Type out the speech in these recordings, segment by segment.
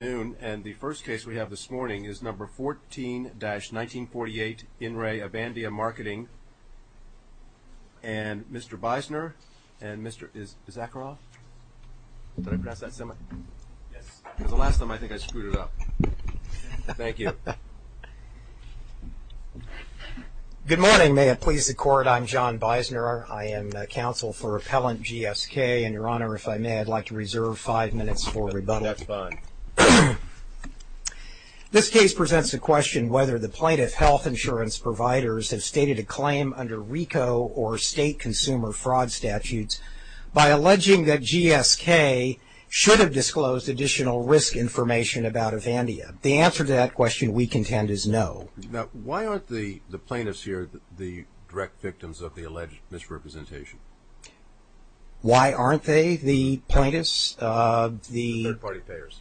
And the first case we have this morning is number 14-1948, InRe Avandia Marketing. And Mr. Bisoner and Mr. Zakharov. Did I pronounce that similarly? Yes. Because the last time I think I screwed it up. Thank you. Good morning. May it please the Court, I'm John Bisoner. I am counsel for Appellant GSK. And Your Honor, if I may, I'd like to reserve five minutes for rebuttal. That's fine. This case presents the question whether the plaintiff health insurance providers have stated a claim under RICO or state consumer fraud statutes by alleging that GSK should have disclosed additional risk information about Avandia. The answer to that question, we contend, is no. Now, why aren't the plaintiffs here the direct victims of the alleged misrepresentation? Why aren't they the plaintiffs? The third-party payers.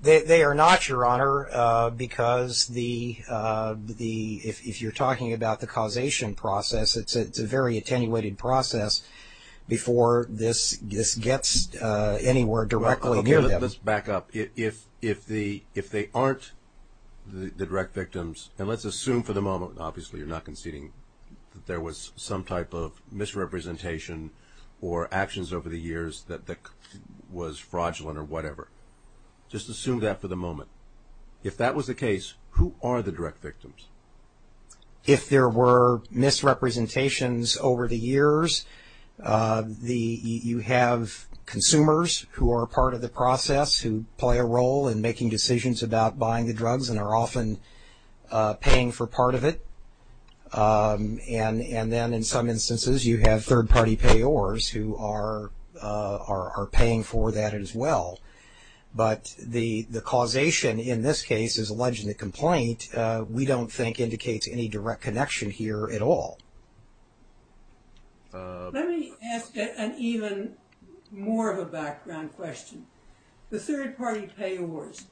They are not, Your Honor, because if you're talking about the causation process, it's a very attenuated process before this gets anywhere directly near them. Okay. Let's back up. If they aren't the direct victims, and let's assume for the moment, obviously, you're not conceding that there was some type of misrepresentation or actions over the years that was fraudulent or whatever. Just assume that for the moment. If that was the case, who are the direct victims? If there were misrepresentations over the years, you have consumers who are part of the process, who play a role in making decisions about buying the drugs and are often paying for part of it. And then in some instances, you have third-party payors who are paying for that as well. But the causation in this case is alleged in the complaint, we don't think indicates any direct connection here at all. Let me ask an even more of a background question. The third-party payors,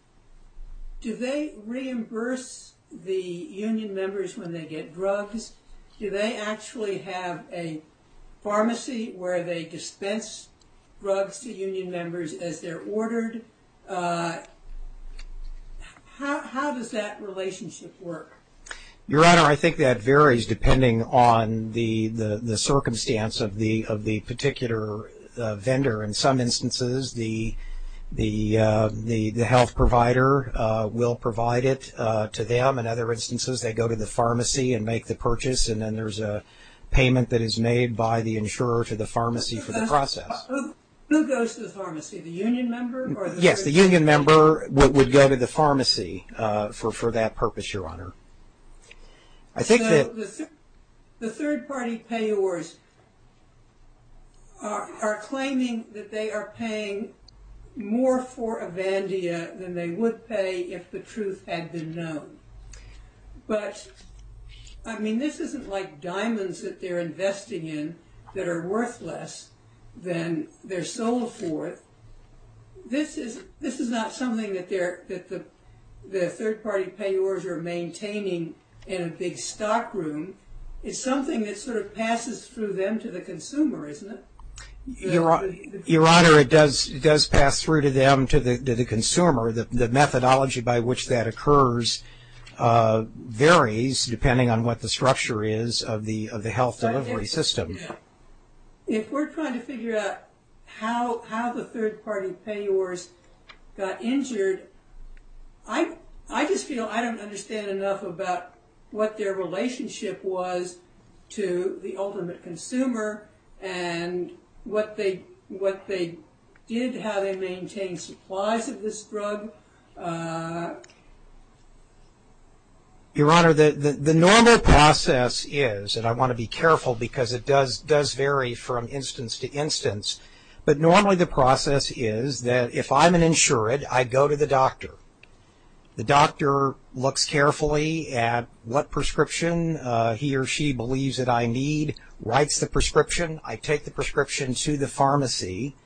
do they reimburse the union members when they get drugs? Do they actually have a pharmacy where they dispense drugs to union members as they're ordered? How does that relationship work? Your Honor, I think that varies depending on the circumstance of the particular vendor. In some instances, the health provider will provide it to them. In other instances, they go to the pharmacy and make the purchase, and then there's a payment that is made by the insurer to the pharmacy for the process. Who goes to the pharmacy, the union member? Yes, the union member would go to the pharmacy for that purpose, Your Honor. The third-party payors are claiming that they are paying more for Avandia than they would pay if the truth had been known. But, I mean, this isn't like diamonds that they're investing in that are worth less than they're sold for. This is not something that the third-party payors are maintaining in a big stock room. It's something that sort of passes through them to the consumer, isn't it? Your Honor, it does pass through to them to the consumer. The methodology by which that occurs varies depending on what the structure is of the health delivery system. If we're trying to figure out how the third-party payors got injured, I just feel I don't understand enough about what their relationship was to the ultimate consumer and what they did, how they maintained supplies of this drug. Your Honor, the normal process is, and I want to be careful because it does vary from instance to instance, but normally the process is that if I'm an insured, I go to the doctor. The doctor looks carefully at what prescription he or she believes that I need, writes the prescription. I take the prescription to the pharmacy.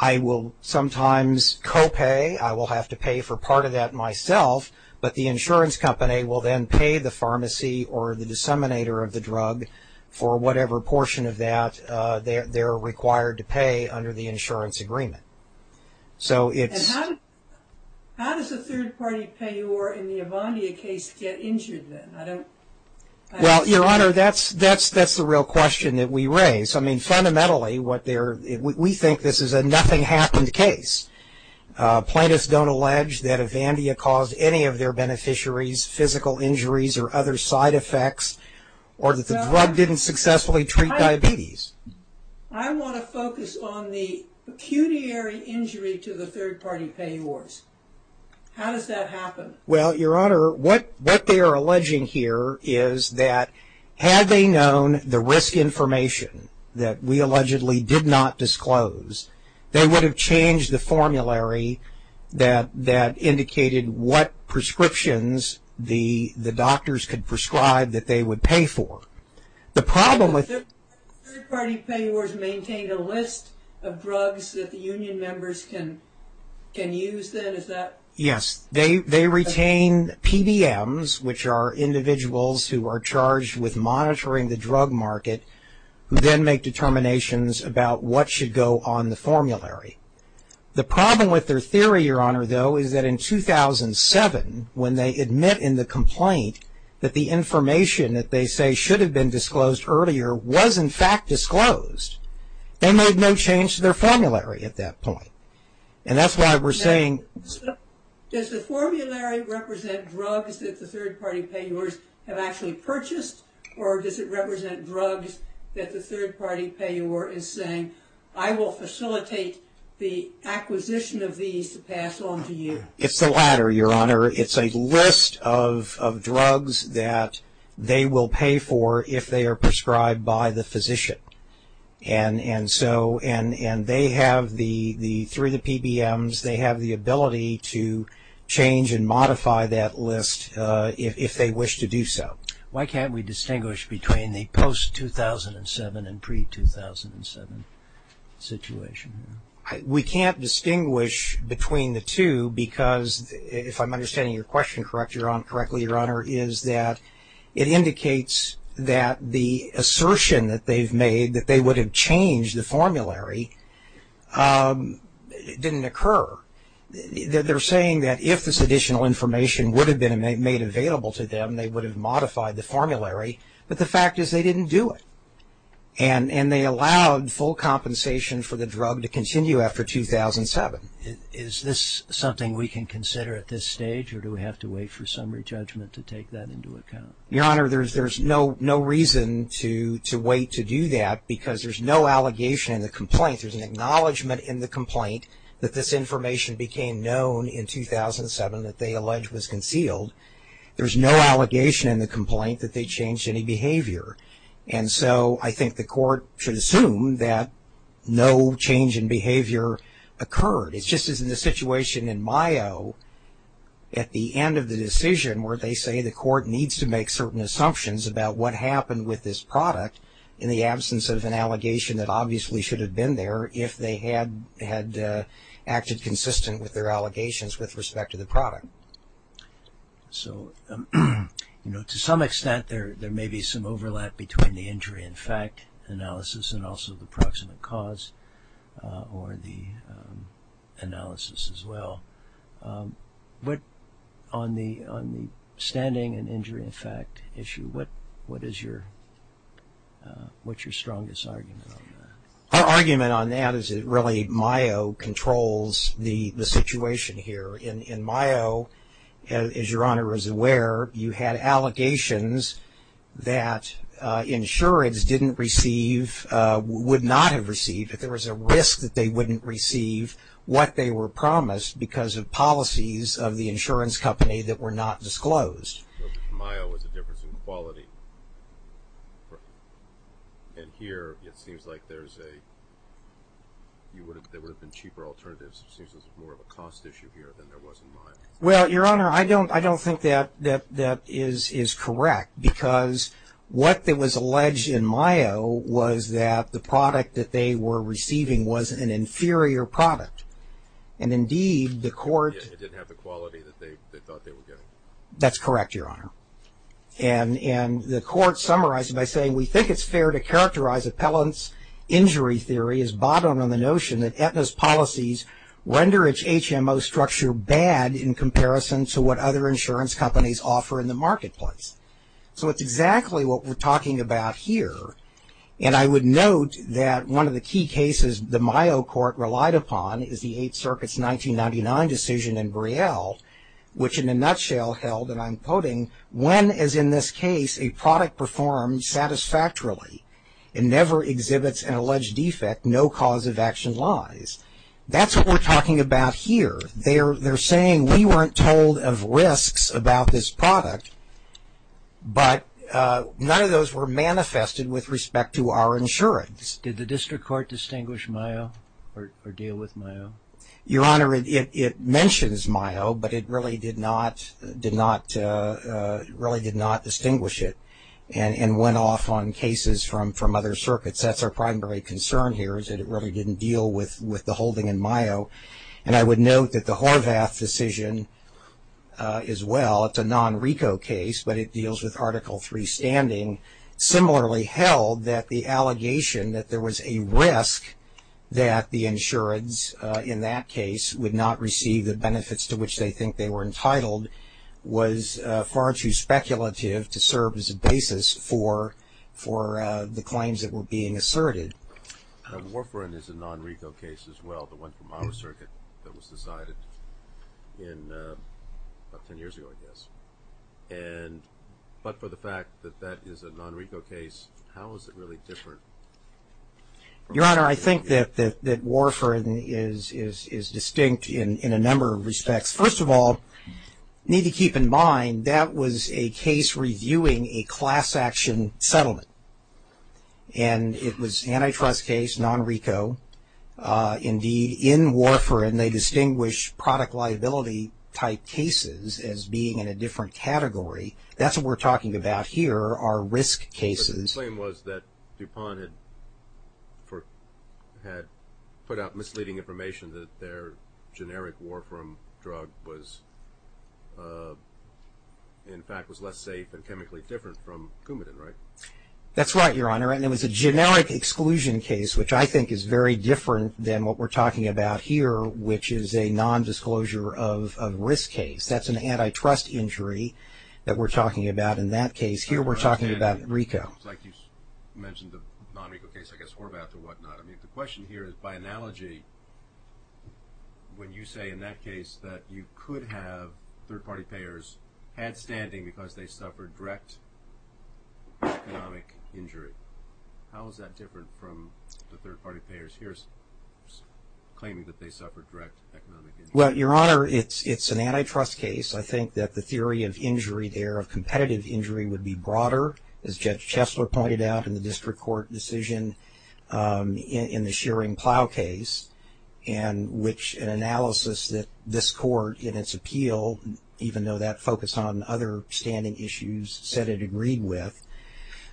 I will sometimes co-pay. I will have to pay for part of that myself, but the insurance company will then pay the pharmacy or the disseminator of the drug for whatever portion of that they're required to pay under the insurance agreement. So it's... How does a third-party payor in the Avandia case get injured then? Well, Your Honor, that's the real question that we raise. Fundamentally, we think this is a nothing happened case. Plaintiffs don't allege that Avandia caused any of their beneficiaries physical injuries or other side effects or that the drug didn't successfully treat diabetes. I want to focus on the pecuniary injury to the third-party payors. How does that happen? Well, Your Honor, what they are alleging here is that had they known the risk information that we allegedly did not disclose, they would have changed the formulary that indicated what prescriptions the doctors could prescribe that they would pay for. The problem with... Third-party payors maintain a list of drugs that the union members can use then? Is that... Yes. They retain PDMs, which are individuals who are charged with monitoring the drug market who then make determinations about what should go on the formulary. The problem with their theory, Your Honor, though, is that in 2007, when they admit in the complaint that the information that they say should have been disclosed earlier was in fact disclosed, they made no change to their formulary at that point. And that's why we're saying... Does the formulary represent drugs that the third-party payors have actually purchased or does it represent drugs that the third-party payor is saying, I will facilitate the acquisition of these to pass on to you? It's the latter, Your Honor. It's a list of drugs that they will pay for if they are prescribed by the physician. And they have, through the PBMs, they have the ability to change and modify that list if they wish to do so. Why can't we distinguish between the post-2007 and pre-2007 situation? We can't distinguish between the two because, if I'm understanding your question correctly, Your Honor, is that it indicates that the assertion that they've made that they would have changed the formulary didn't occur. They're saying that if this additional information would have been made available to them, they would have modified the formulary, but the fact is they didn't do it. And they allowed full compensation for the drug to continue after 2007. Is this something we can consider at this stage or do we have to wait for summary judgment to take that into account? Your Honor, there's no reason to wait to do that because there's no allegation in the complaint. There's an acknowledgment in the complaint that this information became known in 2007 that they allege was concealed. There's no allegation in the complaint that they changed any behavior. And so I think the court should assume that no change in behavior occurred. It's just as in the situation in Mayo at the end of the decision where they say the court needs to make certain assumptions about what happened with this product in the absence of an allegation that obviously should have been there if they had acted consistent with their allegations with respect to the product. So to some extent there may be some overlap between the injury in fact analysis and also the proximate cause or the analysis as well. But on the standing and injury in fact issue, what is your strongest argument on that? Our argument on that is really Mayo controls the situation here. In Mayo, as Your Honor is aware, you had allegations that insurance didn't receive, would not have received if there was a risk that they wouldn't receive what they were promised because of policies of the insurance company that were not disclosed. Mayo is a difference in quality. And here it seems like there's a, there would have been cheaper alternatives. It seems there's more of a cost issue here than there was in Mayo. Well, Your Honor, I don't think that that is correct because what was alleged in Mayo was that the product that they were receiving was an inferior product. And indeed the court. It didn't have the quality that they thought they were getting. That's correct, Your Honor. And the court summarized it by saying we think it's fair to characterize appellant's injury theory as bottomed on the notion that Aetna's policies render its HMO structure bad in comparison to what other insurance companies offer in the marketplace. So it's exactly what we're talking about here. And I would note that one of the key cases the Mayo court relied upon is the Eighth Circuit's 1999 decision in Brielle which in a nutshell held, and I'm quoting, when is in this case a product performed satisfactorily and never exhibits an alleged defect, no cause of action lies. That's what we're talking about here. They're saying we weren't told of risks about this product, but none of those were manifested with respect to our insurance. Did the district court distinguish Mayo or deal with Mayo? Your Honor, it mentions Mayo, but it really did not distinguish it and went off on cases from other circuits. That's our primary concern here is that it really didn't deal with the holding in Mayo. And I would note that the Horvath decision as well, it's a non-RICO case, but it deals with Article III standing, similarly held that the allegation that there was a risk that the insurance in that case would not receive the benefits to which they think they were entitled was far too speculative to serve as a basis for the claims that were being asserted. Warfarin is a non-RICO case as well, the one from our circuit that was decided about ten years ago, I guess. But for the fact that that is a non-RICO case, how is it really different? Your Honor, I think that Warfarin is distinct in a number of respects. First of all, you need to keep in mind that was a case reviewing a class action settlement. And it was an antitrust case, non-RICO. Indeed, in Warfarin, they distinguish product liability type cases as being in a different category. That's what we're talking about here are risk cases. My claim was that DuPont had put out misleading information that their generic Warfarin drug was in fact was less safe and chemically different from Coumadin, right? That's right, Your Honor, and it was a generic exclusion case, which I think is very different than what we're talking about here, which is a non-disclosure of risk case. That's an antitrust injury that we're talking about in that case. Here we're talking about RICO. Like you mentioned the non-RICO case, I guess Horvath or whatnot. I mean, the question here is by analogy, when you say in that case that you could have third-party payers had standing because they suffered direct economic injury. How is that different from the third-party payers here claiming that they suffered direct economic injury? Well, Your Honor, it's an antitrust case. I think that the theory of injury there, of competitive injury, would be broader, as Judge Chesler pointed out in the district court decision in the Shearing Plough case, and which an analysis that this court in its appeal, even though that focused on other standing issues, said it agreed with.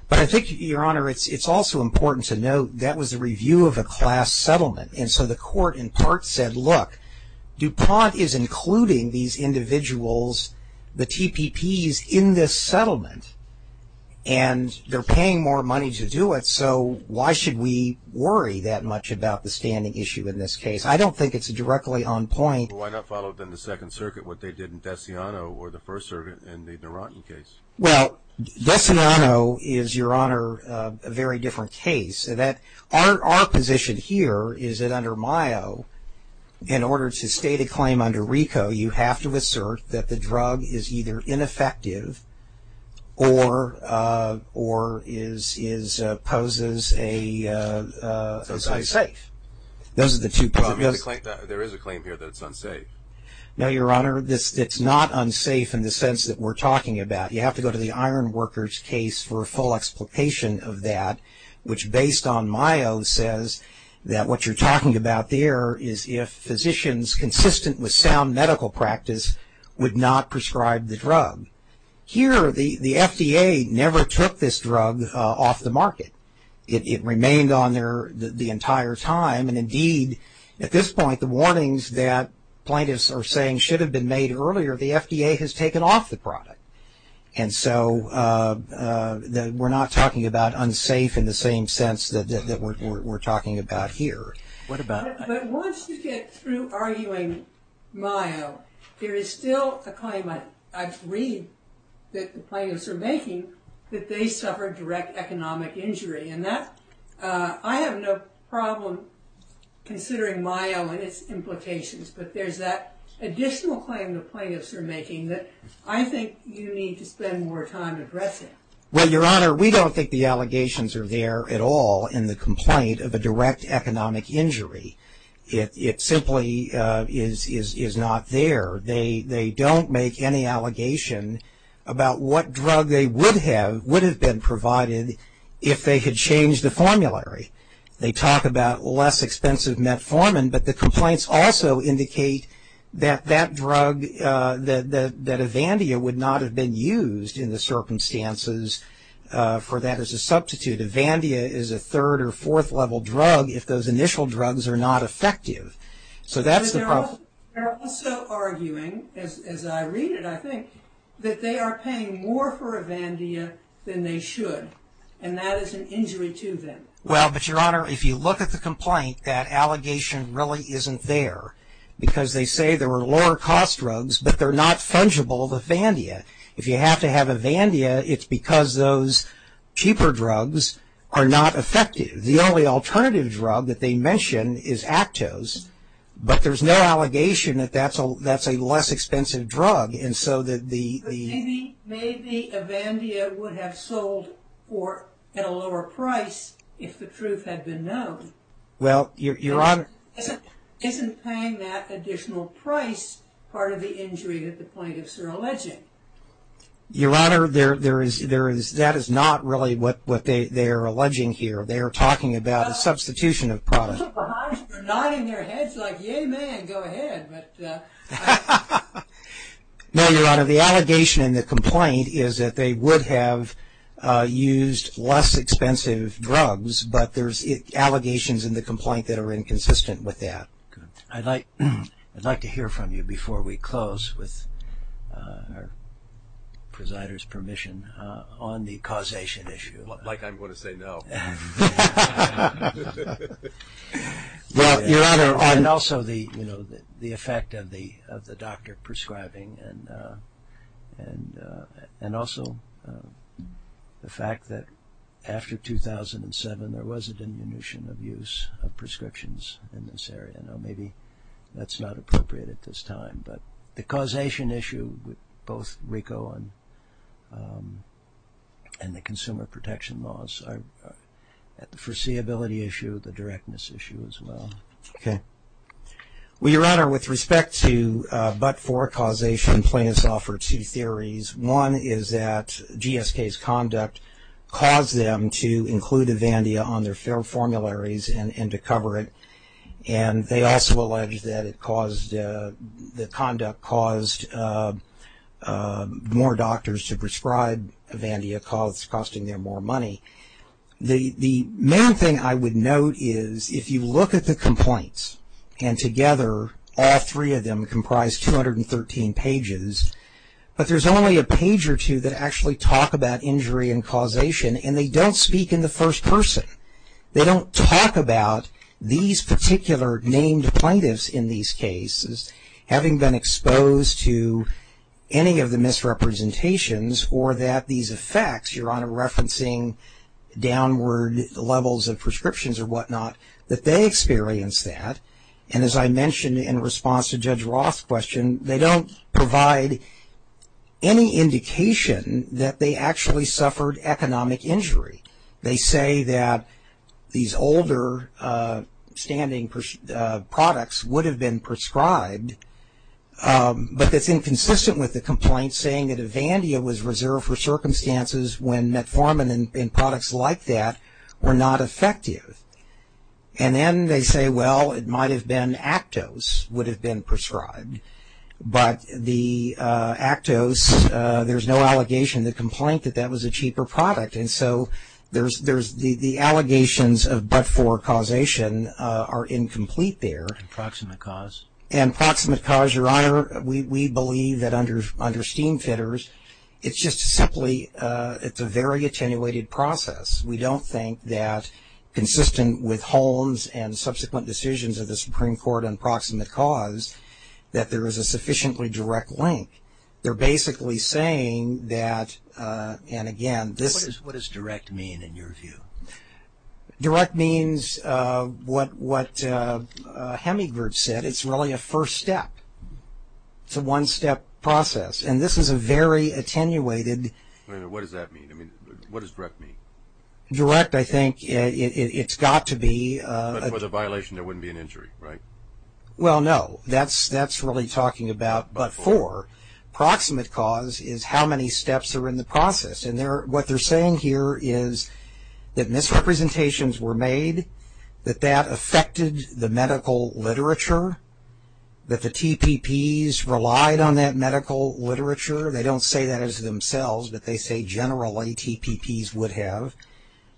But I think, Your Honor, it's also important to note that was a review of a class settlement, and so the court in part said, look, DuPont is including these individuals, the TPPs, in this settlement, and they're paying more money to do it, so why should we worry that much about the standing issue in this case? I don't think it's directly on point. Well, why not follow up in the Second Circuit what they did in Desiano or the First Circuit in the Narantan case? Well, Desiano is, Your Honor, a very different case. Our position here is that under MIO, in order to state a claim under RICO, you have to assert that the drug is either ineffective or poses a safe. Those are the two problems. There is a claim here that it's unsafe. No, Your Honor, it's not unsafe in the sense that we're talking about. You have to go to the Ironworkers case for a full explication of that, which based on MIO says that what you're talking about there is if physicians, consistent with sound medical practice, would not prescribe the drug. Here, the FDA never took this drug off the market. It remained on there the entire time, and indeed, at this point, the warnings that plaintiffs are saying should have been made earlier, the FDA has taken off the product. And so we're not talking about unsafe in the same sense that we're talking about here. But once you get through arguing MIO, there is still a claim I agree that the plaintiffs are making that they suffered direct economic injury. I have no problem considering MIO and its implications, but there's that additional claim the plaintiffs are making that I think you need to spend more time addressing. Well, Your Honor, we don't think the allegations are there at all in the complaint of a direct economic injury. It simply is not there. They don't make any allegation about what drug they would have, would have been provided if they had changed the formulary. They talk about less expensive metformin, but the complaints also indicate that that drug, that Avandia would not have been used in the circumstances for that as a substitute. Avandia is a third or fourth level drug if those initial drugs are not effective. They're also arguing, as I read it, I think, that they are paying more for Avandia than they should. And that is an injury to them. Well, but Your Honor, if you look at the complaint, that allegation really isn't there. Because they say there were lower cost drugs, but they're not fungible, the Avandia. If you have to have Avandia, it's because those cheaper drugs are not effective. The only alternative drug that they mention is Actos, but there's no allegation that that's a less expensive drug. Maybe Avandia would have sold at a lower price if the truth had been known. Isn't paying that additional price part of the injury that the plaintiffs are alleging? Your Honor, that is not really what they are alleging here. They are talking about a substitution of products. They're nodding their heads like, yeah, man, go ahead. No, Your Honor, the allegation in the complaint is that they would have used less expensive drugs, but there's allegations in the complaint that are inconsistent with that. I'd like to hear from you before we close, with our presider's permission, on the causation issue. Like I'm going to say no. Your Honor, and also the effect of the doctor prescribing and also the fact that after 2007 there was a diminution of use of prescriptions in this area. Maybe that's not appropriate at this time, but the causation issue with both RICO and the consumer protection laws, the foreseeability issue, the directness issue as well. Well, Your Honor, with respect to but-for causation, plaintiffs offered two theories. One is that GSK's conduct caused them to include Avandia on their fair formularies and to cover it, and they also allege that the conduct caused more doctors to prescribe Avandia, costing them more money. The main thing I would note is if you look at the complaints, and together all three of them comprise 213 pages, but there's only a page or two that actually talk about injury and causation, and they don't speak in the first person. They don't talk about these particular named plaintiffs in these cases having been exposed to any of the misrepresentations or that these effects, Your Honor, referencing downward levels of prescriptions or whatnot, that they experienced that. And as I mentioned in response to Judge Roth's question, they don't provide any indication that they actually suffered economic injury. They say that these older standing products would have been prescribed, but that's inconsistent with the complaint saying that Avandia was reserved for circumstances when metformin and products like that were not effective. And then they say, well, it might have been Actos would have been prescribed, but the Actos, there's no allegation in the complaint that that was a cheaper product. And so the allegations of but-for causation are incomplete there. And proximate cause? And proximate cause, Your Honor, we believe that under steam fitters, it's just simply it's a very attenuated process. We don't think that consistent with Holmes and subsequent decisions of the Supreme Court on proximate cause that there is a sufficiently direct link. They're basically saying that, and again, this is. What does direct mean in your view? Direct means what Hemingward said. It's really a first step. It's a one-step process. And this is a very attenuated. What does that mean? I mean, what does direct mean? Direct, I think, it's got to be. But for the violation, there wouldn't be an injury, right? Well, no. That's really talking about but-for. Proximate cause is how many steps are in the process. And what they're saying here is that misrepresentations were made, that that affected the medical literature, that the TPPs relied on that medical literature. They don't say that as themselves, but they say generally TPPs would have,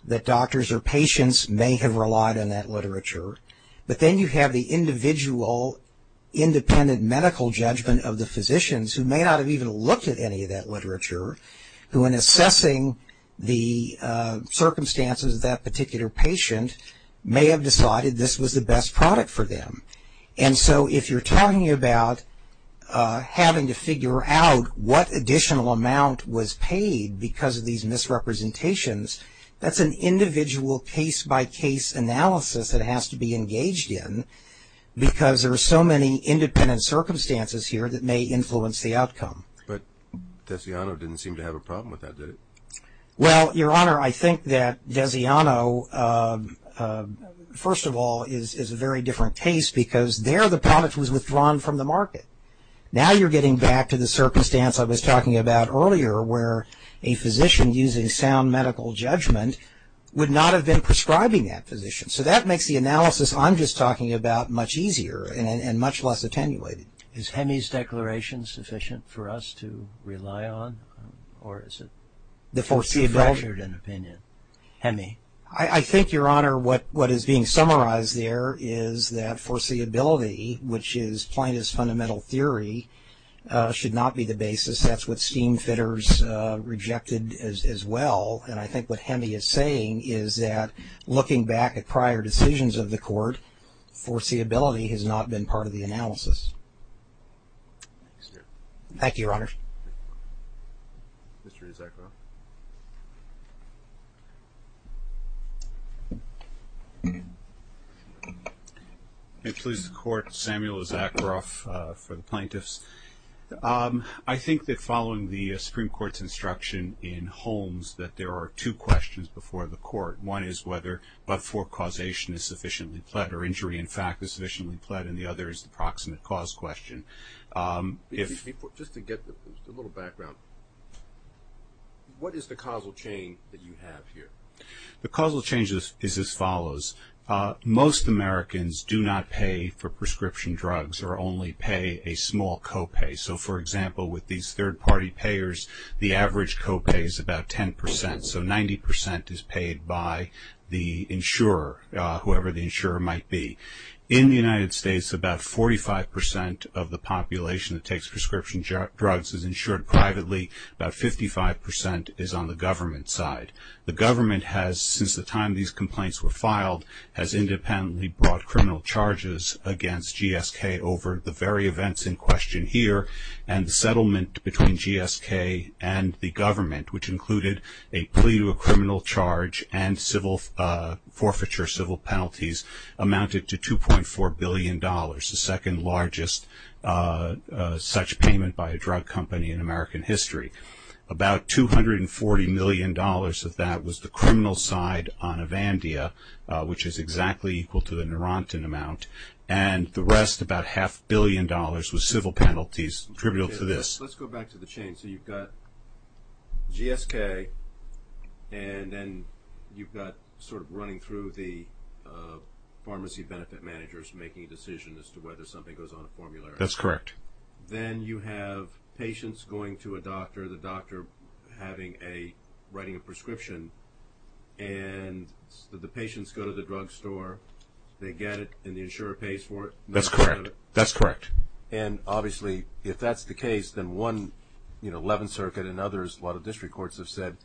that doctors or patients may have relied on that literature. But then you have the individual independent medical judgment of the physicians who may not have even looked at any of that literature, who in assessing the circumstances of that particular patient may have decided this was the best product for them. And so if you're talking about having to figure out what additional amount was paid because of these misrepresentations, that's an individual case-by-case analysis that has to be engaged in because there are so many independent circumstances here that may influence the outcome. But Desiano didn't seem to have a problem with that, did it? Well, Your Honor, I think that Desiano, first of all, is a very different case because there the product was withdrawn from the market. Now you're getting back to the circumstance I was talking about earlier where a physician using sound medical judgment would not have been prescribing that physician. So that makes the analysis I'm just talking about much easier and much less attenuated. Is Hemi's declaration sufficient for us to rely on? Or is it too fractured an opinion? Hemi. I think, Your Honor, what is being summarized there is that foreseeability, which is plaintiff's fundamental theory, should not be the basis. That's what steam fitters rejected as well. And I think what Hemi is saying is that looking back at prior decisions of the court, foreseeability has not been part of the analysis. Thank you, Your Honor. Mr. Isakroff. May it please the Court, Samuel Isakroff for the plaintiffs. I think that following the Supreme Court's instruction in Holmes that there are two questions before the court. One is whether but-for causation is sufficiently pled or injury in fact is sufficiently pled, and the other is the proximate cause question. Just to get a little background, what is the causal chain that you have here? The causal chain is as follows. Most Americans do not pay for prescription drugs or only pay a small copay. So, for example, with these third-party payers, the average copay is about 10%. So 90% is paid by the insurer, whoever the insurer might be. In the United States, about 45% of the population that takes prescription drugs is insured privately. About 55% is on the government side. The government has, since the time these complaints were filed, has independently brought criminal charges against GSK over the very events in question here, and the settlement between GSK and the government, which included a plea to a criminal charge and forfeiture civil penalties, amounted to $2.4 billion, the second largest such payment by a drug company in American history. About $240 million of that was the criminal side on Avandia, which is exactly equal to the Narantan amount, and the rest, about half a billion dollars, was civil penalties attributable to this. Let's go back to the chain. So you've got GSK, and then you've got sort of running through the pharmacy benefit managers making a decision as to whether something goes on a formulary. That's correct. Then you have patients going to a doctor, the doctor writing a prescription, and the patients go to the drugstore. They get it, and the insurer pays for it. That's correct. That's correct. And obviously, if that's the case, then one, you know, 11th Circuit and others, a lot of district courts have said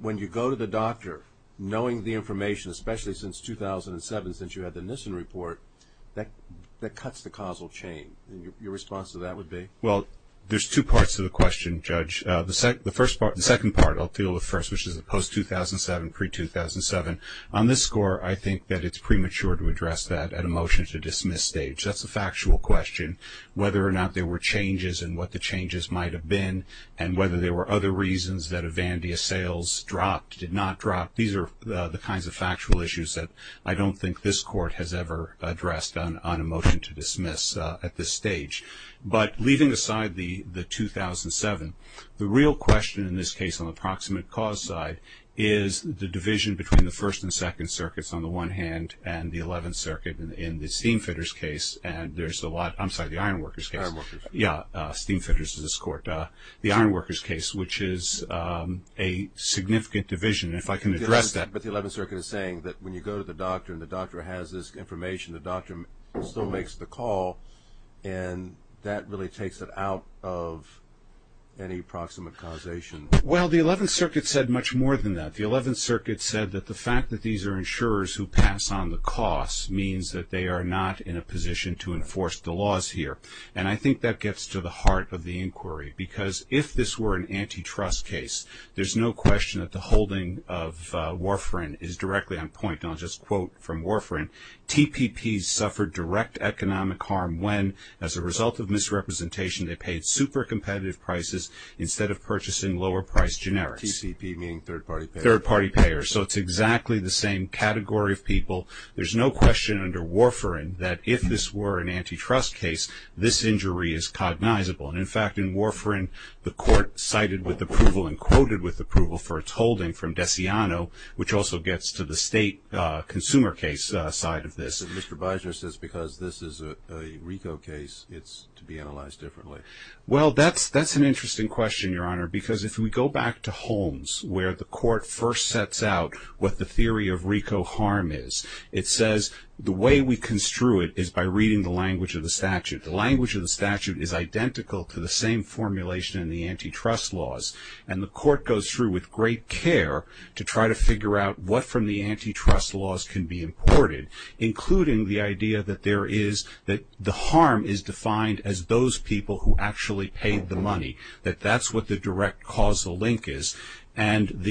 when you go to the doctor, knowing the information, especially since 2007 since you had the Nissen report, that cuts the causal chain. Your response to that would be? Well, there's two parts to the question, Judge. The second part I'll deal with first, which is the post-2007, pre-2007. On this score, I think that it's premature to address that at a motion to dismiss stage. That's a factual question. Whether or not there were changes and what the changes might have been and whether there were other reasons that Avandia sales dropped, did not drop, these are the kinds of factual issues that I don't think this court has ever addressed on a motion to dismiss at this stage. But leaving aside the 2007, the real question in this case on the proximate cause side is the division between the 1st and 2nd Circuits on the one hand and the 11th Circuit in the steamfitters case and there's a lot, I'm sorry, the ironworkers case. Ironworkers. Yeah, steamfitters in this court. The ironworkers case, which is a significant division. If I can address that. But the 11th Circuit is saying that when you go to the doctor and the doctor has this information, the doctor still makes the call and that really takes it out of any proximate causation. Well, the 11th Circuit said much more than that. The 11th Circuit said that the fact that these are insurers who pass on the costs means that they are not in a position to enforce the laws here. And I think that gets to the heart of the inquiry because if this were an antitrust case, there's no question that the holding of Warfarin is directly on point. And I'll just quote from Warfarin, TPPs suffered direct economic harm when, as a result of misrepresentation, they paid super competitive prices instead of purchasing lower-priced generics. TPP meaning third-party payers. Third-party payers. So it's exactly the same category of people. There's no question under Warfarin that if this were an antitrust case, this injury is cognizable. And, in fact, in Warfarin, the court cited with approval and quoted with approval for its holding from Desiano, which also gets to the state consumer case side of this. Mr. Beiser says because this is a RICO case, it's to be analyzed differently. Well, that's an interesting question, Your Honor, because if we go back to Holmes, where the court first sets out what the theory of RICO harm is, it says the way we construe it is by reading the language of the statute. The language of the statute is identical to the same formulation in the antitrust laws, and the court goes through with great care to try to figure out what from the antitrust laws can be imported, including the idea that the harm is defined as those people who actually paid the money, that that's what the direct causal link is. And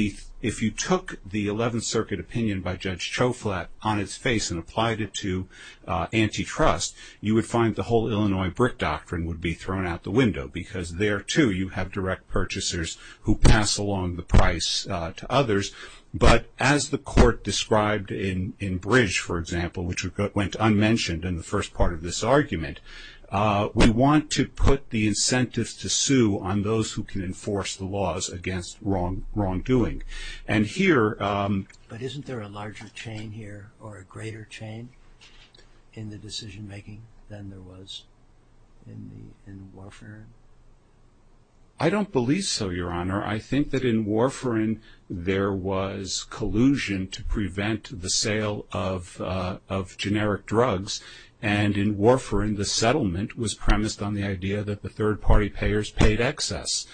if you took the Eleventh Circuit opinion by Judge Choflat on its face and applied it to antitrust, you would find the whole Illinois brick doctrine would be thrown out the window because there, too, you have direct purchasers who pass along the price to others. But as the court described in Bridge, for example, which went unmentioned in the first part of this argument, we want to put the incentives to sue on those who can enforce the laws against wrongdoing. And here... But isn't there a larger chain here, or a greater chain, in the decision-making than there was in Warfarin? I don't believe so, Your Honor. I think that in Warfarin there was collusion to prevent the sale of generic drugs, and in Warfarin the settlement was premised on the idea that the third-party payers paid excess.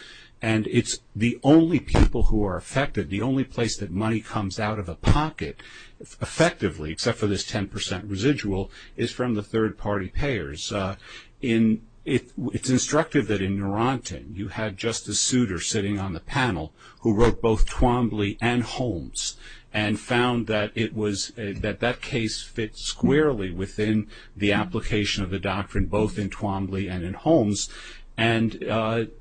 And it's the only people who are affected, the only place that money comes out of a pocket effectively, except for this 10 percent residual, is from the third-party payers. It's instructive that in Narantan you had Justice Souter sitting on the panel who wrote both Twombly and Holmes and found that that case fits squarely within the application of the doctrine, both in Twombly and in Holmes. And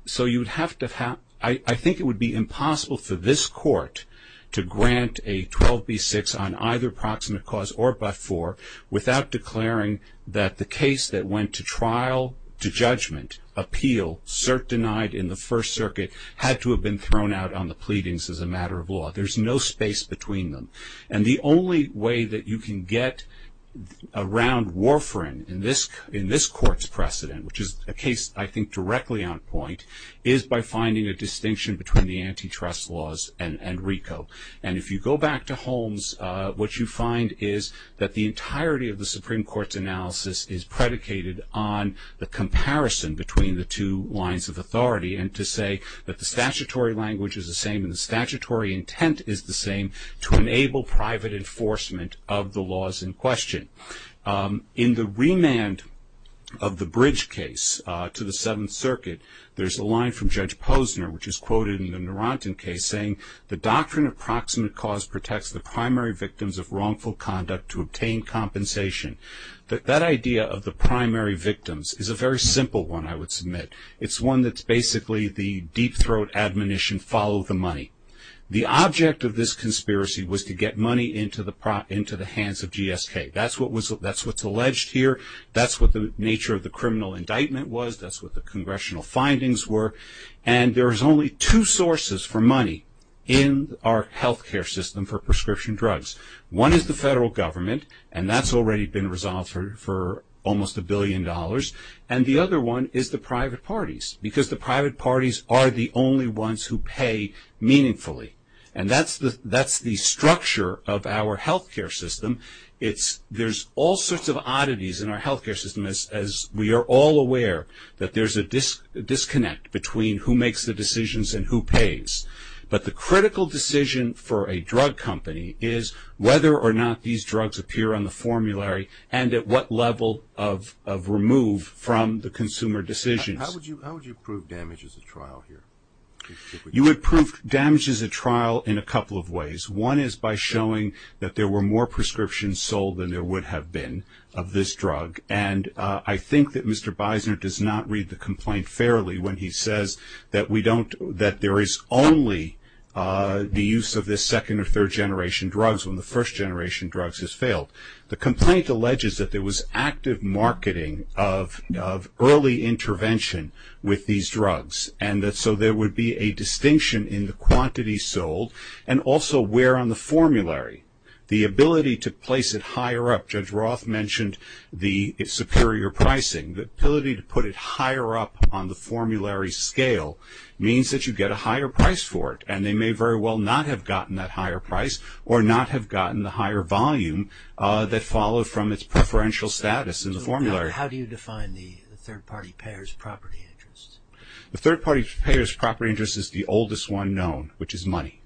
so you'd have to have... I think it would be impossible for this court to grant a 12b-6 on either proximate cause or but-for without declaring that the case that went to trial, to judgment, appeal, cert denied in the First Circuit, had to have been thrown out on the pleadings as a matter of law. There's no space between them. And the only way that you can get around Warfarin in this court's precedent, which is a case I think directly on point, is by finding a distinction between the antitrust laws and RICO. And if you go back to Holmes, what you find is that the entirety of the Supreme Court's analysis is predicated on the comparison between the two lines of authority and to say that the statutory language is the same and the statutory intent is the same to enable private enforcement of the laws in question. In the remand of the Bridge case to the Seventh Circuit, there's a line from Judge Posner, which is quoted in the Narantan case, saying, the doctrine of proximate cause protects the primary victims of wrongful conduct to obtain compensation. That idea of the primary victims is a very simple one, I would submit. It's one that's basically the deep throat admonition, follow the money. The object of this conspiracy was to get money into the hands of GSK. That's what's alleged here. That's what the nature of the criminal indictment was. That's what the congressional findings were. And there's only two sources for money in our health care system for prescription drugs. One is the federal government, and that's already been resolved for almost a billion dollars. And the other one is the private parties, because the private parties are the only ones who pay meaningfully. And that's the structure of our health care system. There's all sorts of oddities in our health care system, as we are all aware that there's a disconnect between who makes the decisions and who pays. But the critical decision for a drug company is whether or not these drugs appear on the formulary and at what level of remove from the consumer decisions. How would you prove damage as a trial here? You would prove damage as a trial in a couple of ways. One is by showing that there were more prescriptions sold than there would have been of this drug. And I think that Mr. Beisner does not read the complaint fairly when he says that we don't, that there is only the use of this second or third generation drugs when the first generation drugs has failed. The complaint alleges that there was active marketing of early intervention with these drugs, and that so there would be a distinction in the quantity sold and also where on the formulary. The ability to place it higher up, Judge Roth mentioned the superior pricing, the ability to put it higher up on the formulary scale means that you get a higher price for it. And they may very well not have gotten that higher price or not have gotten the higher volume that followed from its preferential status in the formulary. How do you define the third party payers' property interest? The third party payers' property interest is the oldest one known, which is money.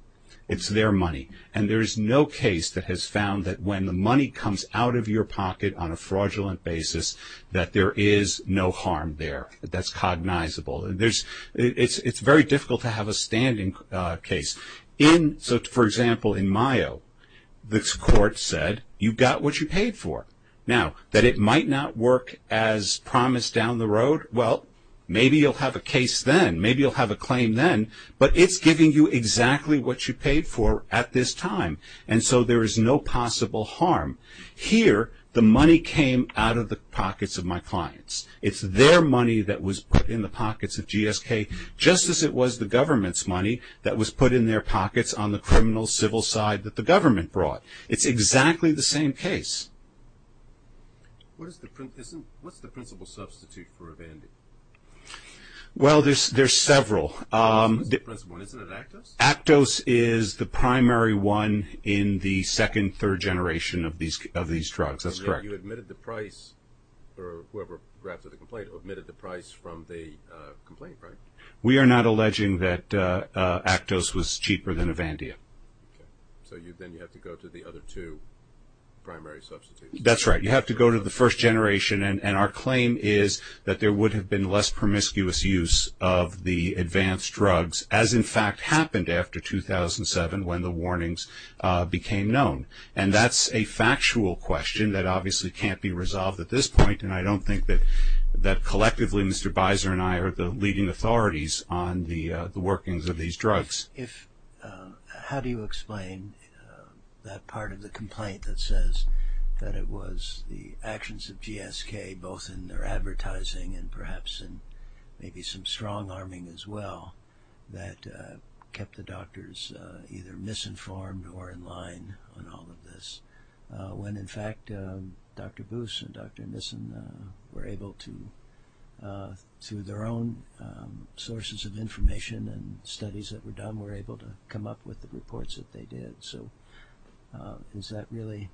It's their money. And there is no case that has found that when the money comes out of your pocket on a fraudulent basis that there is no harm there. That's cognizable. It's very difficult to have a standing case. For example, in Mayo, this court said you got what you paid for. Now, that it might not work as promised down the road, well, maybe you'll have a case then. Maybe you'll have a claim then, but it's giving you exactly what you paid for at this time, and so there is no possible harm. Here, the money came out of the pockets of my clients. It's their money that was put in the pockets of GSK, just as it was the government's money that was put in their pockets on the criminal, civil side that the government brought. It's exactly the same case. What's the principal substitute for Avandia? Well, there's several. Isn't it Actos? Actos is the primary one in the second, third generation of these drugs. That's correct. You admitted the price, or whoever drafted the complaint admitted the price from the complaint, right? We are not alleging that Actos was cheaper than Avandia. Okay. So then you have to go to the other two primary substitutes. That's right. You have to go to the first generation, and our claim is that there would have been less promiscuous use of the advanced drugs, as in fact happened after 2007 when the warnings became known. And that's a factual question that obviously can't be resolved at this point, and I don't think that collectively Mr. Beiser and I are the leading authorities on the workings of these drugs. How do you explain that part of the complaint that says that it was the actions of GSK, both in their advertising and perhaps in maybe some strong arming as well, that kept the doctors either misinformed or in line on all of this, when in fact Dr. Boos and Dr. Nissen were able to, through their own sources of information and studies that were done, were able to come up with the reports that they did? So is that really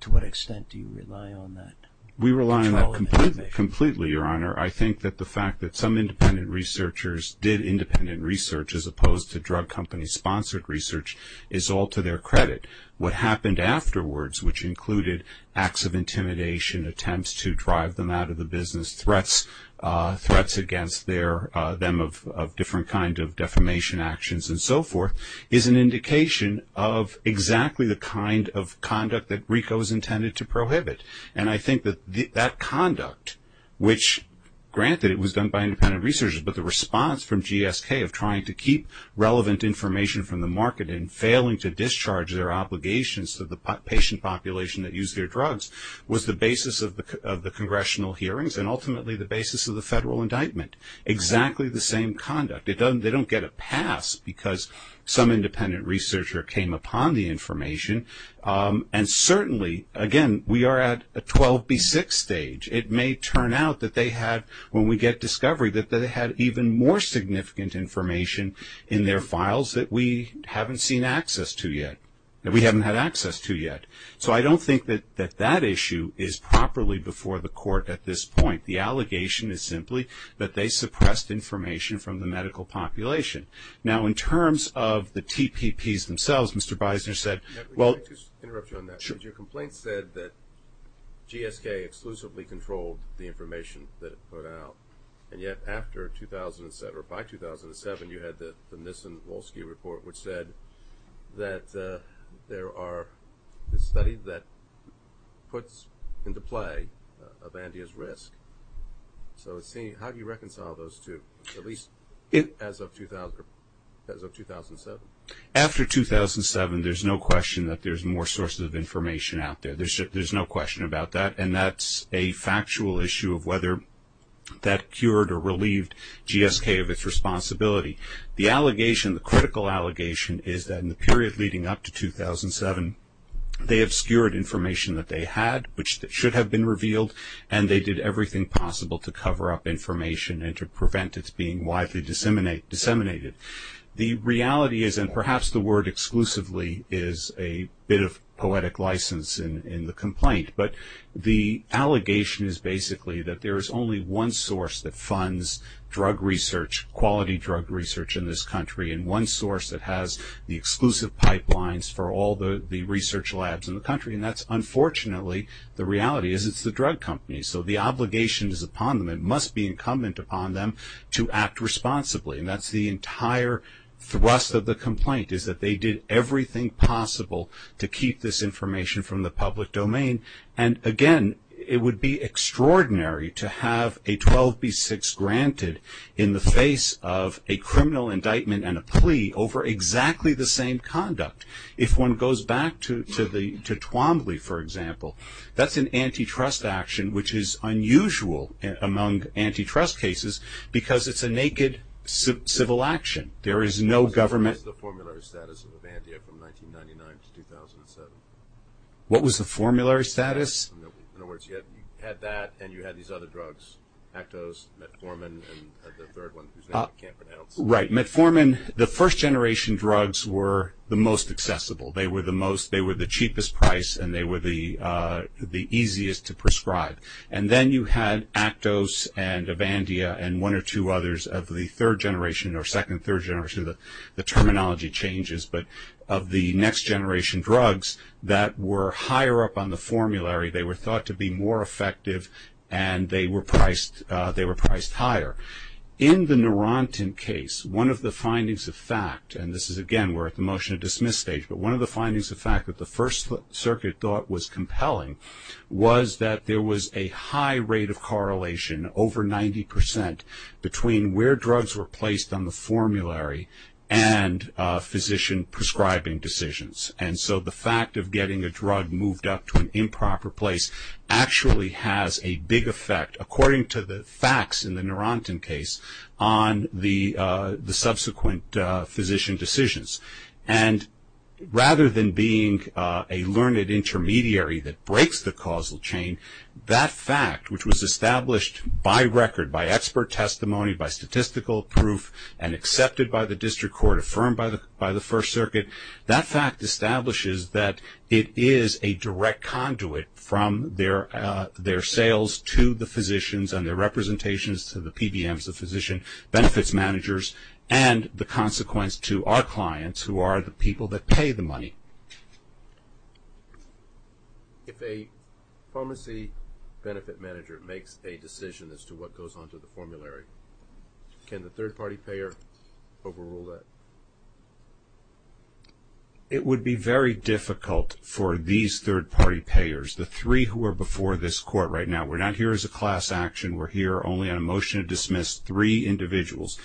to what extent do you rely on that? We rely on that completely, Your Honor. I think that the fact that some independent researchers did independent research as opposed to drug company-sponsored research is all to their credit. What happened afterwards, which included acts of intimidation, attempts to drive them out of the business, threats against them of different kinds of defamation actions and so forth, is an indication of exactly the kind of conduct that RICO is intended to prohibit. And I think that that conduct, which granted it was done by independent researchers, but the response from GSK of trying to keep relevant information from the market and failing to discharge their obligations to the patient population that used their drugs, was the basis of the congressional hearings and ultimately the basis of the federal indictment. Exactly the same conduct. They don't get a pass because some independent researcher came upon the information. And certainly, again, we are at a 12B6 stage. It may turn out that they had, when we get discovery, that they had even more significant information in their files that we haven't seen access to yet, that we haven't had access to yet. So I don't think that that issue is properly before the court at this point. The allegation is simply that they suppressed information from the medical population. Now, in terms of the TPPs themselves, Mr. Beisner said, well- Can I just interrupt you on that? Sure. Your complaint said that GSK exclusively controlled the information that it put out, and yet after 2007, or by 2007, you had the Nissen-Wolski report, which said that there are studies that puts into play a bandia's risk. So how do you reconcile those two, at least as of 2007? After 2007, there's no question that there's more sources of information out there. There's no question about that, and that's a factual issue of whether that cured or relieved GSK of its responsibility. The allegation, the critical allegation, is that in the period leading up to 2007, they obscured information that they had, which should have been revealed, and they did everything possible to cover up information and to prevent its being widely disseminated. The reality is, and perhaps the word exclusively is a bit of poetic license in the complaint, but the allegation is basically that there is only one source that funds drug research, quality drug research in this country, and one source that has the exclusive pipelines for all the research labs in the country, and that's unfortunately, the reality is it's the drug companies. So the obligation is upon them, it must be incumbent upon them to act responsibly, and that's the entire thrust of the complaint, is that they did everything possible to keep this information from the public domain, and again, it would be extraordinary to have a 12B6 granted in the face of a criminal indictment and a plea over exactly the same conduct. If one goes back to Twombly, for example, that's an antitrust action which is unusual among antitrust cases because it's a naked civil action. There is no government... What was the formulary status of Avandia from 1999 to 2007? What was the formulary status? In other words, you had that and you had these other drugs, Actos, Metformin, and the third one whose name I can't pronounce. Right, Metformin, the first generation drugs were the most accessible. They were the cheapest price and they were the easiest to prescribe, and then you had Actos and Avandia and one or two others of the third generation or second, third generation, the terminology changes, but of the next generation drugs that were higher up on the formulary. They were thought to be more effective and they were priced higher. In the Neurontin case, one of the findings of fact, and this is, again, we're at the motion to dismiss stage, but one of the findings of fact that the First Circuit thought was compelling was that there was a high rate of correlation, over 90%, between where drugs were placed on the formulary and physician prescribing decisions. And so the fact of getting a drug moved up to an improper place actually has a big effect, according to the facts in the Neurontin case, on the subsequent physician decisions. And rather than being a learned intermediary that breaks the causal chain, that fact, which was established by record, by expert testimony, by statistical proof, and accepted by the district court, affirmed by the First Circuit, that fact establishes that it is a direct conduit from their sales to the physicians and their representations to the PBMs, the physician benefits managers, and the consequence to our clients who are the people that pay the money. If a pharmacy benefit manager makes a decision as to what goes on to the formulary, can the third-party payer overrule that? It would be very difficult for these third-party payers, the three who are before this court right now. We're not here as a class action. We're here only on a motion to dismiss three individuals.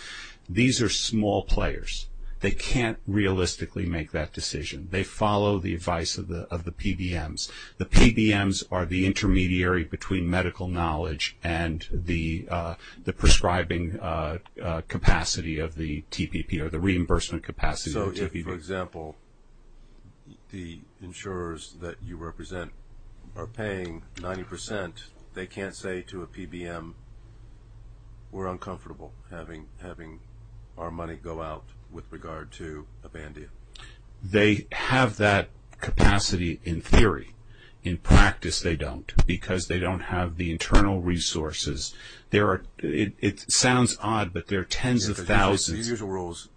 These are small players. They can't realistically make that decision. They follow the advice of the PBMs. The PBMs are the intermediary between medical knowledge and the prescribing capacity of the TPP or the reimbursement capacity of the TPP. So if, for example, the insurers that you represent are paying 90 percent, they can't say to a PBM, we're uncomfortable having our money go out with regard to a Band-Aid. They have that capacity in theory. In practice, they don't because they don't have the internal resources. It sounds odd, but there are tens of thousands. The usual rules,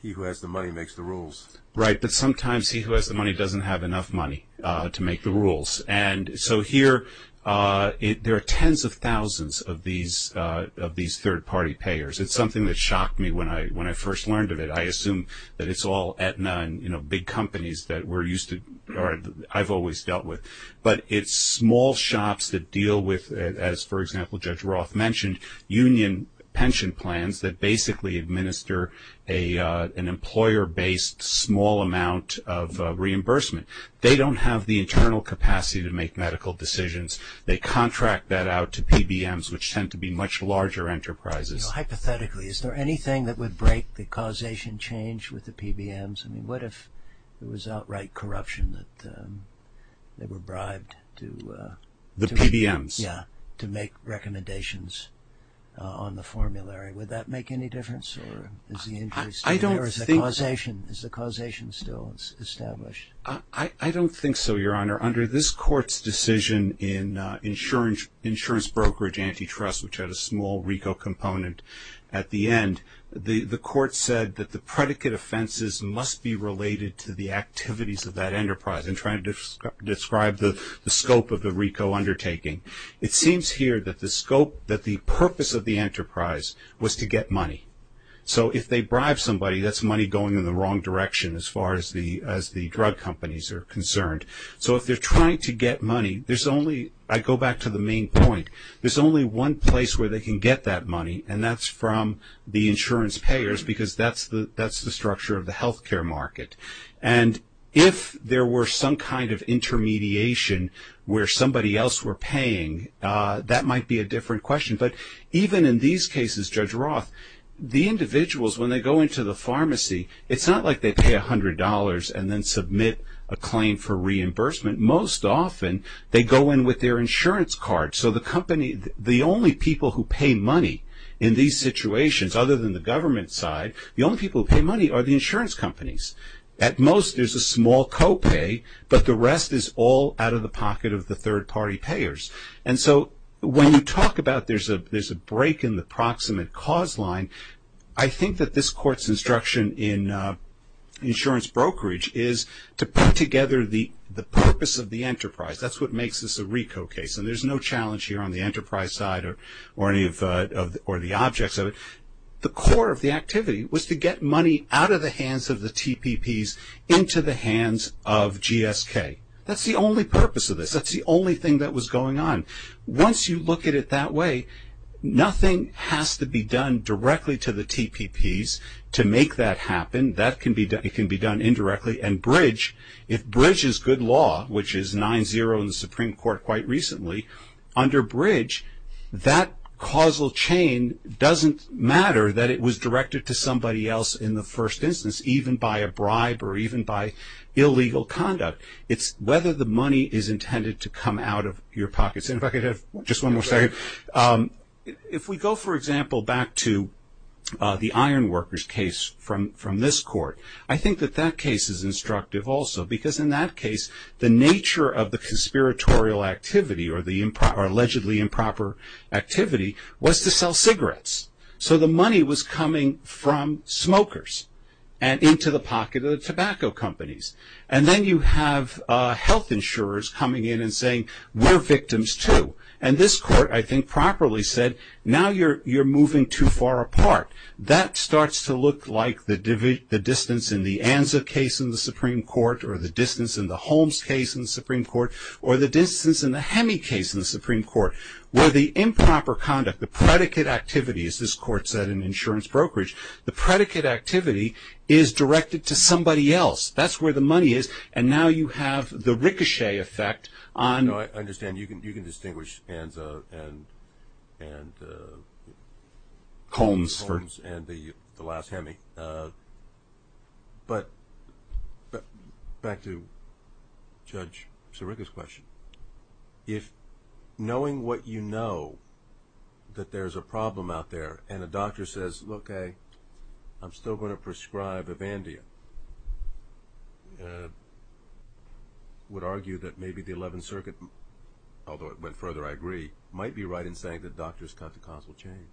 he who has the money makes the rules. Right, but sometimes he who has the money doesn't have enough money to make the rules. And so here there are tens of thousands of these third-party payers. It's something that shocked me when I first learned of it. I assume that it's all Aetna and, you know, big companies that we're used to or I've always dealt with. But it's small shops that deal with, as, for example, Judge Roth mentioned, union pension plans that basically administer an employer-based small amount of reimbursement. They don't have the internal capacity to make medical decisions. They contract that out to PBMs, which tend to be much larger enterprises. Hypothetically, is there anything that would break the causation change with the PBMs? I mean, what if there was outright corruption that they were bribed to... The PBMs. Yeah, to make recommendations on the formulary. Would that make any difference or is the injury still there? I don't think... Is the causation still established? I don't think so, Your Honor. Under this court's decision in insurance brokerage antitrust, which had a small RICO component at the end, the court said that the predicate offenses must be related to the activities of that enterprise in trying to describe the scope of the RICO undertaking. It seems here that the purpose of the enterprise was to get money. So if they bribe somebody, that's money going in the wrong direction as far as the drug companies are concerned. So if they're trying to get money, there's only... I go back to the main point. There's only one place where they can get that money, and that's from the insurance payers because that's the structure of the health care market. And if there were some kind of intermediation where somebody else were paying, that might be a different question. But even in these cases, Judge Roth, the individuals, when they go into the pharmacy, it's not like they pay $100 and then submit a claim for reimbursement. Most often, they go in with their insurance card. So the company, the only people who pay money in these situations, other than the government side, the only people who pay money are the insurance companies. At most, there's a small copay, but the rest is all out of the pocket of the third-party payers. And so when you talk about there's a break in the proximate cause line, I think that this court's instruction in insurance brokerage is to put together the purpose of the enterprise. That's what makes this a RICO case, and there's no challenge here on the enterprise side or any of the objects of it. The core of the activity was to get money out of the hands of the TPPs into the hands of GSK. That's the only purpose of this. That's the only thing that was going on. Once you look at it that way, nothing has to be done directly to the TPPs to make that happen. That can be done indirectly. And bridge, if bridge is good law, which is 9-0 in the Supreme Court quite recently, under bridge, that causal chain doesn't matter that it was directed to somebody else in the first instance, even by a bribe or even by illegal conduct. It's whether the money is intended to come out of your pockets. And if I could have just one more second, if we go, for example, back to the iron workers case from this court, I think that that case is instructive also because in that case the nature of the conspiratorial activity or the allegedly improper activity was to sell cigarettes. So the money was coming from smokers and into the pocket of the tobacco companies. And then you have health insurers coming in and saying, we're victims too. And this court, I think, properly said, now you're moving too far apart. That starts to look like the distance in the ANSA case in the Supreme Court or the distance in the Holmes case in the Supreme Court or the distance in the HEMI case in the Supreme Court, where the improper conduct, the predicate activity, as this court said in insurance brokerage, the predicate activity is directed to somebody else. That's where the money is. And now you have the ricochet effect on. No, I understand. You can distinguish ANSA and Holmes and the last HEMI. But back to Judge Sirica's question, if knowing what you know that there's a problem out there and a doctor says, okay, I'm still going to prescribe Evandia, would argue that maybe the 11th Circuit, although it went further, I agree, might be right in saying that doctors cut the causal chain.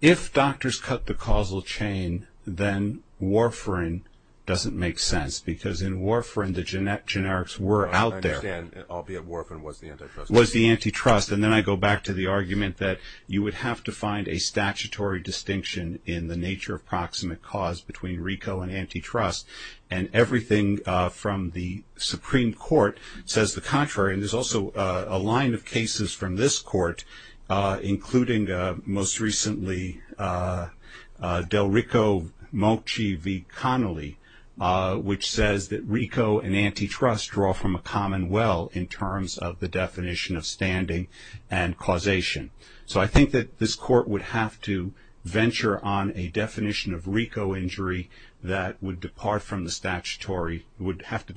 If doctors cut the causal chain, then warfarin doesn't make sense, because in warfarin the generics were out there. I understand, albeit warfarin was the antitrust. And then I go back to the argument that you would have to find a statutory distinction in the nature of proximate cause between rico and antitrust. And everything from the Supreme Court says the contrary. And there's also a line of cases from this court, including most recently Delrico Mochi v. Connolly, which says that rico and antitrust draw from a common well in terms of the definition of standing and causation. So I think that this court would have to venture on a definition of rico injury that would have to depart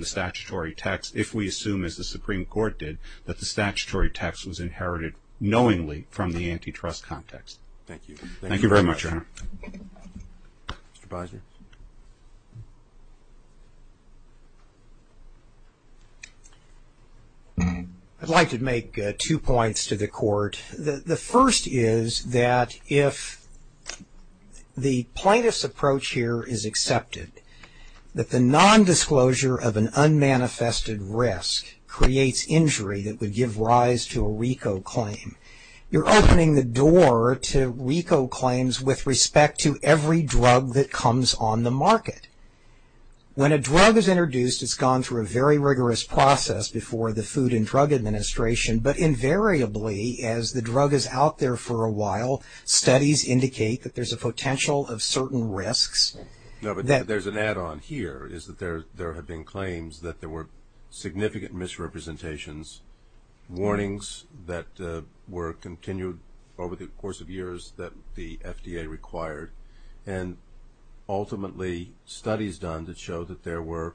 from the statutory text if we assume, as the Supreme Court did, that the statutory text was inherited knowingly from the antitrust context. Mr. Bosner. I'd like to make two points to the court. The first is that if the plaintiff's approach here is accepted, that the nondisclosure of an unmanifested risk creates injury that would give rise to a rico claim, you're opening the door to rico claims with respect to every drug that comes on the market. When a drug is introduced, it's gone through a very rigorous process before the Food and Drug Administration. But invariably, as the drug is out there for a while, studies indicate that there's a potential of certain risks. No, but there's an add-on here, is that there have been claims that there were significant misrepresentations, warnings that were continued over the course of years that the FDA required, and ultimately studies done that showed that there were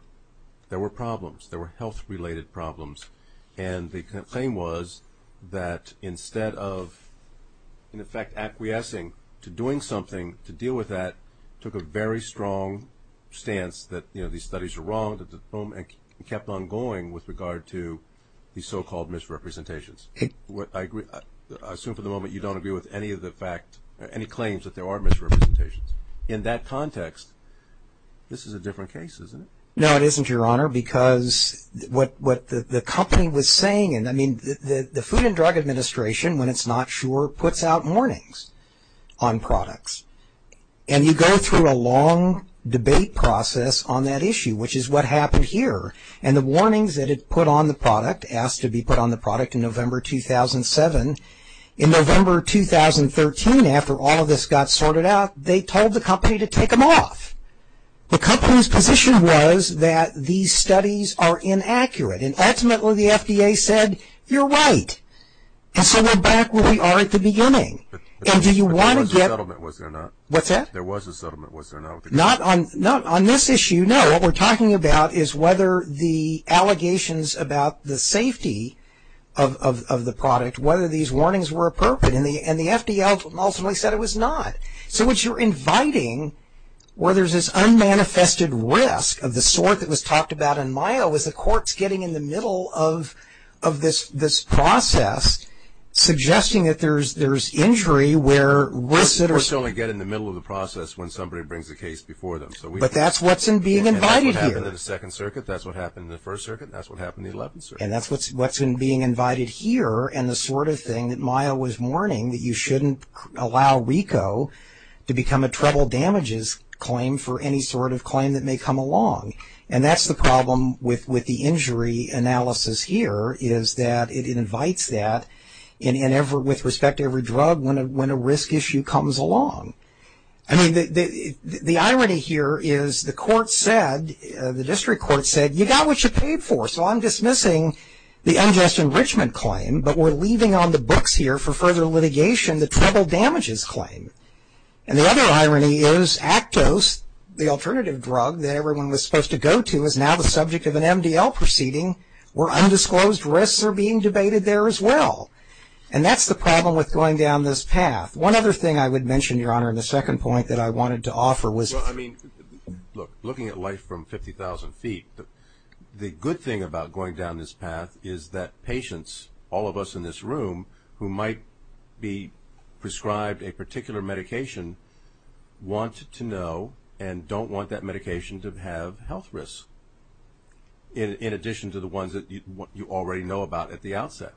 problems, there were health-related problems. And the claim was that instead of, in effect, acquiescing to doing something to deal with that, took a very strong stance that, you know, these studies are wrong, and kept on going with regard to these so-called misrepresentations. I assume for the moment you don't agree with any of the claims that there are misrepresentations. In that context, this is a different case, isn't it? No, it isn't, Your Honor, because what the company was saying, I mean, the Food and Drug Administration, when it's not sure, puts out warnings on products. And you go through a long debate process on that issue, which is what happened here. And the warnings that it put on the product, asked to be put on the product in November 2007, in November 2013, after all of this got sorted out, they told the company to take them off. The company's position was that these studies are inaccurate, and ultimately the FDA said, you're right. And so we're back where we are at the beginning. But there was a settlement, was there not? What's that? There was a settlement, was there not? Not on this issue, no. What we're talking about is whether the allegations about the safety of the product, whether these warnings were appropriate. And the FDA ultimately said it was not. So what you're inviting, where there's this unmanifested risk of the sort that was talked about in Mayo, is the courts getting in the middle of this process, suggesting that there's injury where. Courts only get in the middle of the process when somebody brings a case before them. But that's what's being invited here. And that's what happened in the Second Circuit, that's what happened in the First Circuit, and that's what happened in the Eleventh Circuit. And that's what's being invited here, and the sort of thing that Mayo was warning, that you shouldn't allow RICO to become a treble damages claim for any sort of claim that may come along. And that's the problem with the injury analysis here, is that it invites that with respect to every drug when a risk issue comes along. I mean, the irony here is the court said, the district court said, you got what you paid for, so I'm dismissing the unjust enrichment claim, but we're leaving on the books here for further litigation the treble damages claim. And the other irony is Actos, the alternative drug that everyone was supposed to go to, is now the subject of an MDL proceeding, where undisclosed risks are being debated there as well. And that's the problem with going down this path. One other thing I would mention, Your Honor, in the second point that I wanted to offer was- Well, I mean, look, looking at life from 50,000 feet, the good thing about going down this path is that patients, all of us in this room, who might be prescribed a particular medication, want to know and don't want that medication to have health risks, in addition to the ones that you already know about at the outset.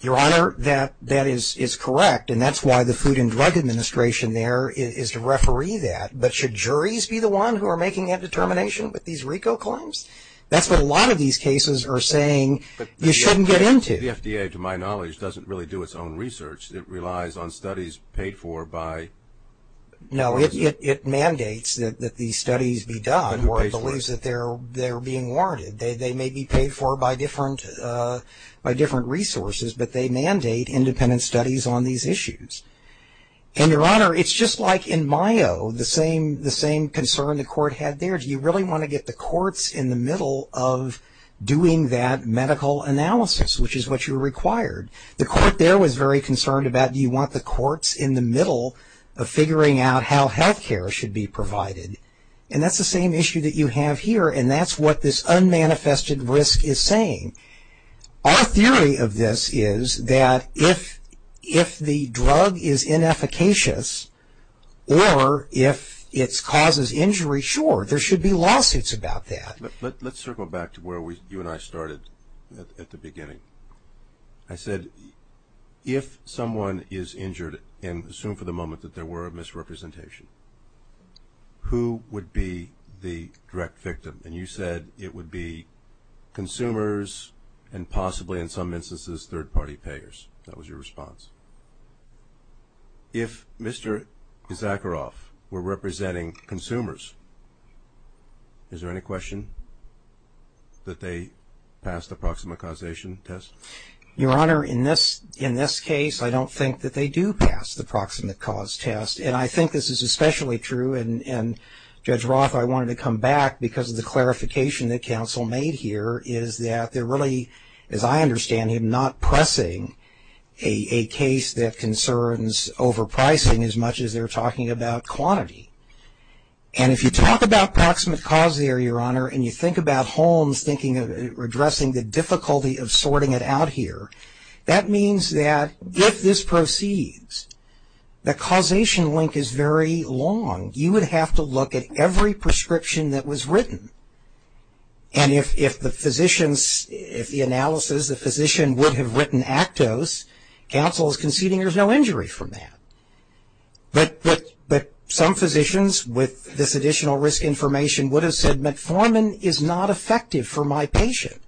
Your Honor, that is correct, and that's why the Food and Drug Administration there is to referee that. But should juries be the one who are making that determination with these RICO claims? That's what a lot of these cases are saying you shouldn't get into. The FDA, to my knowledge, doesn't really do its own research. It relies on studies paid for by- No, it mandates that these studies be done, or it believes that they're being warranted. They may be paid for by different resources, but they mandate independent studies on these issues. And, Your Honor, it's just like in Mayo, the same concern the court had there. Do you really want to get the courts in the middle of doing that medical analysis, which is what you required? The court there was very concerned about, do you want the courts in the middle of figuring out how health care should be provided? And that's the same issue that you have here, and that's what this unmanifested risk is saying. Our theory of this is that if the drug is inefficacious, or if it causes injury, sure, there should be lawsuits about that. Let's circle back to where you and I started at the beginning. I said, if someone is injured, and assume for the moment that there were a misrepresentation, who would be the direct victim? And you said it would be consumers and possibly, in some instances, third-party payers. That was your response. If Mr. Zakharoff were representing consumers, is there any question that they pass the proximate causation test? Your Honor, in this case, I don't think that they do pass the proximate cause test. And I think this is especially true, and Judge Roth, I wanted to come back, because of the clarification that counsel made here, is that they're really, as I understand it, not pressing a case that concerns overpricing, as much as they're talking about quantity. And if you talk about proximate cause there, Your Honor, and you think about Holmes addressing the difficulty of sorting it out here, that means that if this proceeds, the causation link is very long. You would have to look at every prescription that was written. And if the physicians, if the analysis, the physician would have written Actos, counsel is conceding there's no injury from that. But some physicians, with this additional risk information, would have said metformin is not effective for my patient.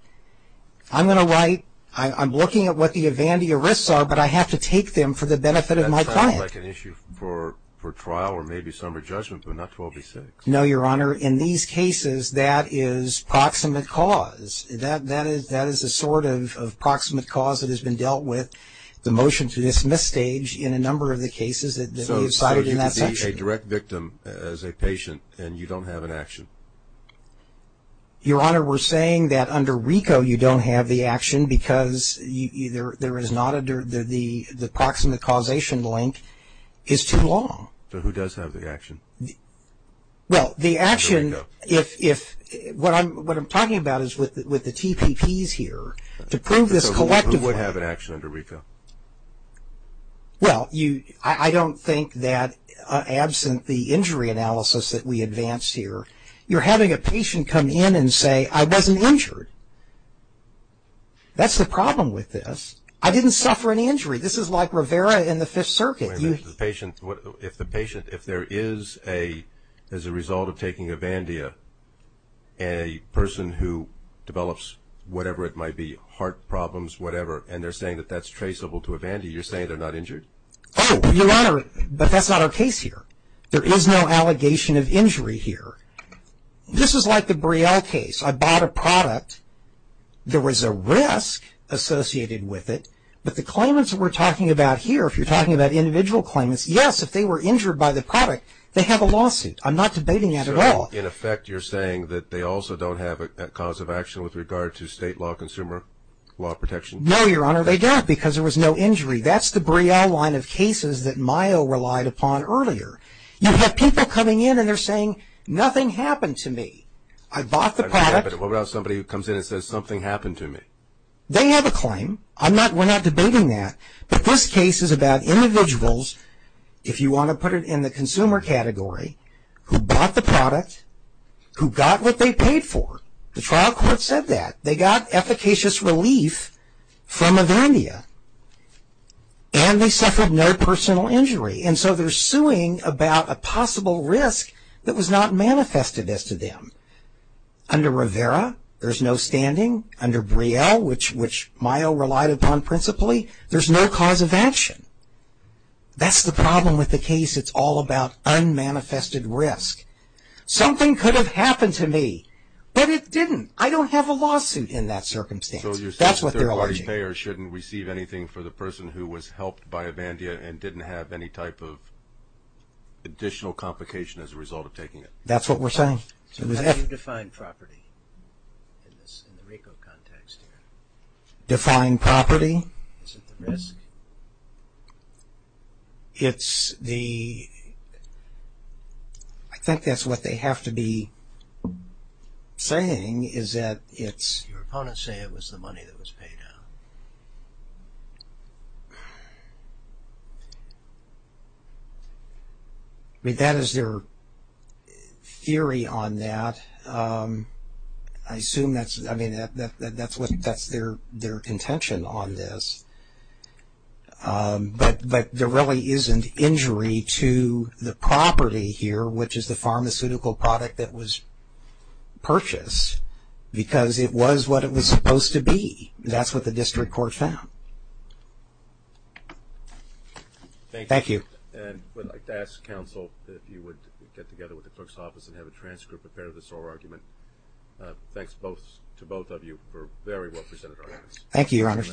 I'm going to write, I'm looking at what the Evandia risks are, but I have to take them for the benefit of my client. That sounds like an issue for trial or maybe summary judgment, but not to OB-6. No, Your Honor. In these cases, that is proximate cause. That is the sort of proximate cause that has been dealt with, the motion to dismiss stage in a number of the cases that we've cited in that section. So you could be a direct victim as a patient and you don't have an action? Your Honor, we're saying that under RICO you don't have the action because there is not a, the proximate causation link is too long. So who does have the action? Well, the action, if, what I'm talking about is with the TPPs here. To prove this collectively. Who would have an action under RICO? Well, I don't think that absent the injury analysis that we advanced here, you're having a patient come in and say, I wasn't injured. That's the problem with this. I didn't suffer an injury. This is like Rivera in the Fifth Circuit. If the patient, if there is a, as a result of taking a Vandia, a person who develops whatever it might be, heart problems, whatever, and they're saying that that's traceable to a Vandia, you're saying they're not injured? Oh, Your Honor, but that's not our case here. There is no allegation of injury here. This is like the Brielle case. I bought a product. There was a risk associated with it, but the claimants that we're talking about here, if you're talking about individual claimants, yes, if they were injured by the product, they have a lawsuit. I'm not debating that at all. So, in effect, you're saying that they also don't have a cause of action with regard to state law consumer law protection? No, Your Honor, they don't, because there was no injury. That's the Brielle line of cases that Mayo relied upon earlier. You have people coming in and they're saying, nothing happened to me. I bought the product. What about somebody who comes in and says, something happened to me? They have a claim. I'm not, we're not debating that. But this case is about individuals, if you want to put it in the consumer category, who bought the product, who got what they paid for. The trial court said that. They got efficacious relief from a vendia, and they suffered no personal injury. And so they're suing about a possible risk that was not manifested as to them. Under Rivera, there's no standing. Under Brielle, which Mayo relied upon principally, there's no cause of action. That's the problem with the case. It's all about unmanifested risk. Something could have happened to me, but it didn't. I don't have a lawsuit in that circumstance. That's what they're arguing. So you're saying that third-party payers shouldn't receive anything for the person who was helped by a vendia and didn't have any type of additional complication as a result of taking it? That's what we're saying. So how do you define property in the RICO context here? Define property? Is it the risk? It's the... I think that's what they have to be saying is that it's... Your opponents say it was the money that was paid out. I mean, that is their theory on that. I assume that's, I mean, that's their contention on this. But there really isn't injury to the property here, which is the pharmaceutical product that was purchased, because it was what it was supposed to be. That's what the district court found. Thank you. And I'd like to ask counsel if you would get together with the clerk's office and have a transcript prepared of this whole argument. Thanks to both of you for very well presented arguments. Thank you, Your Honor.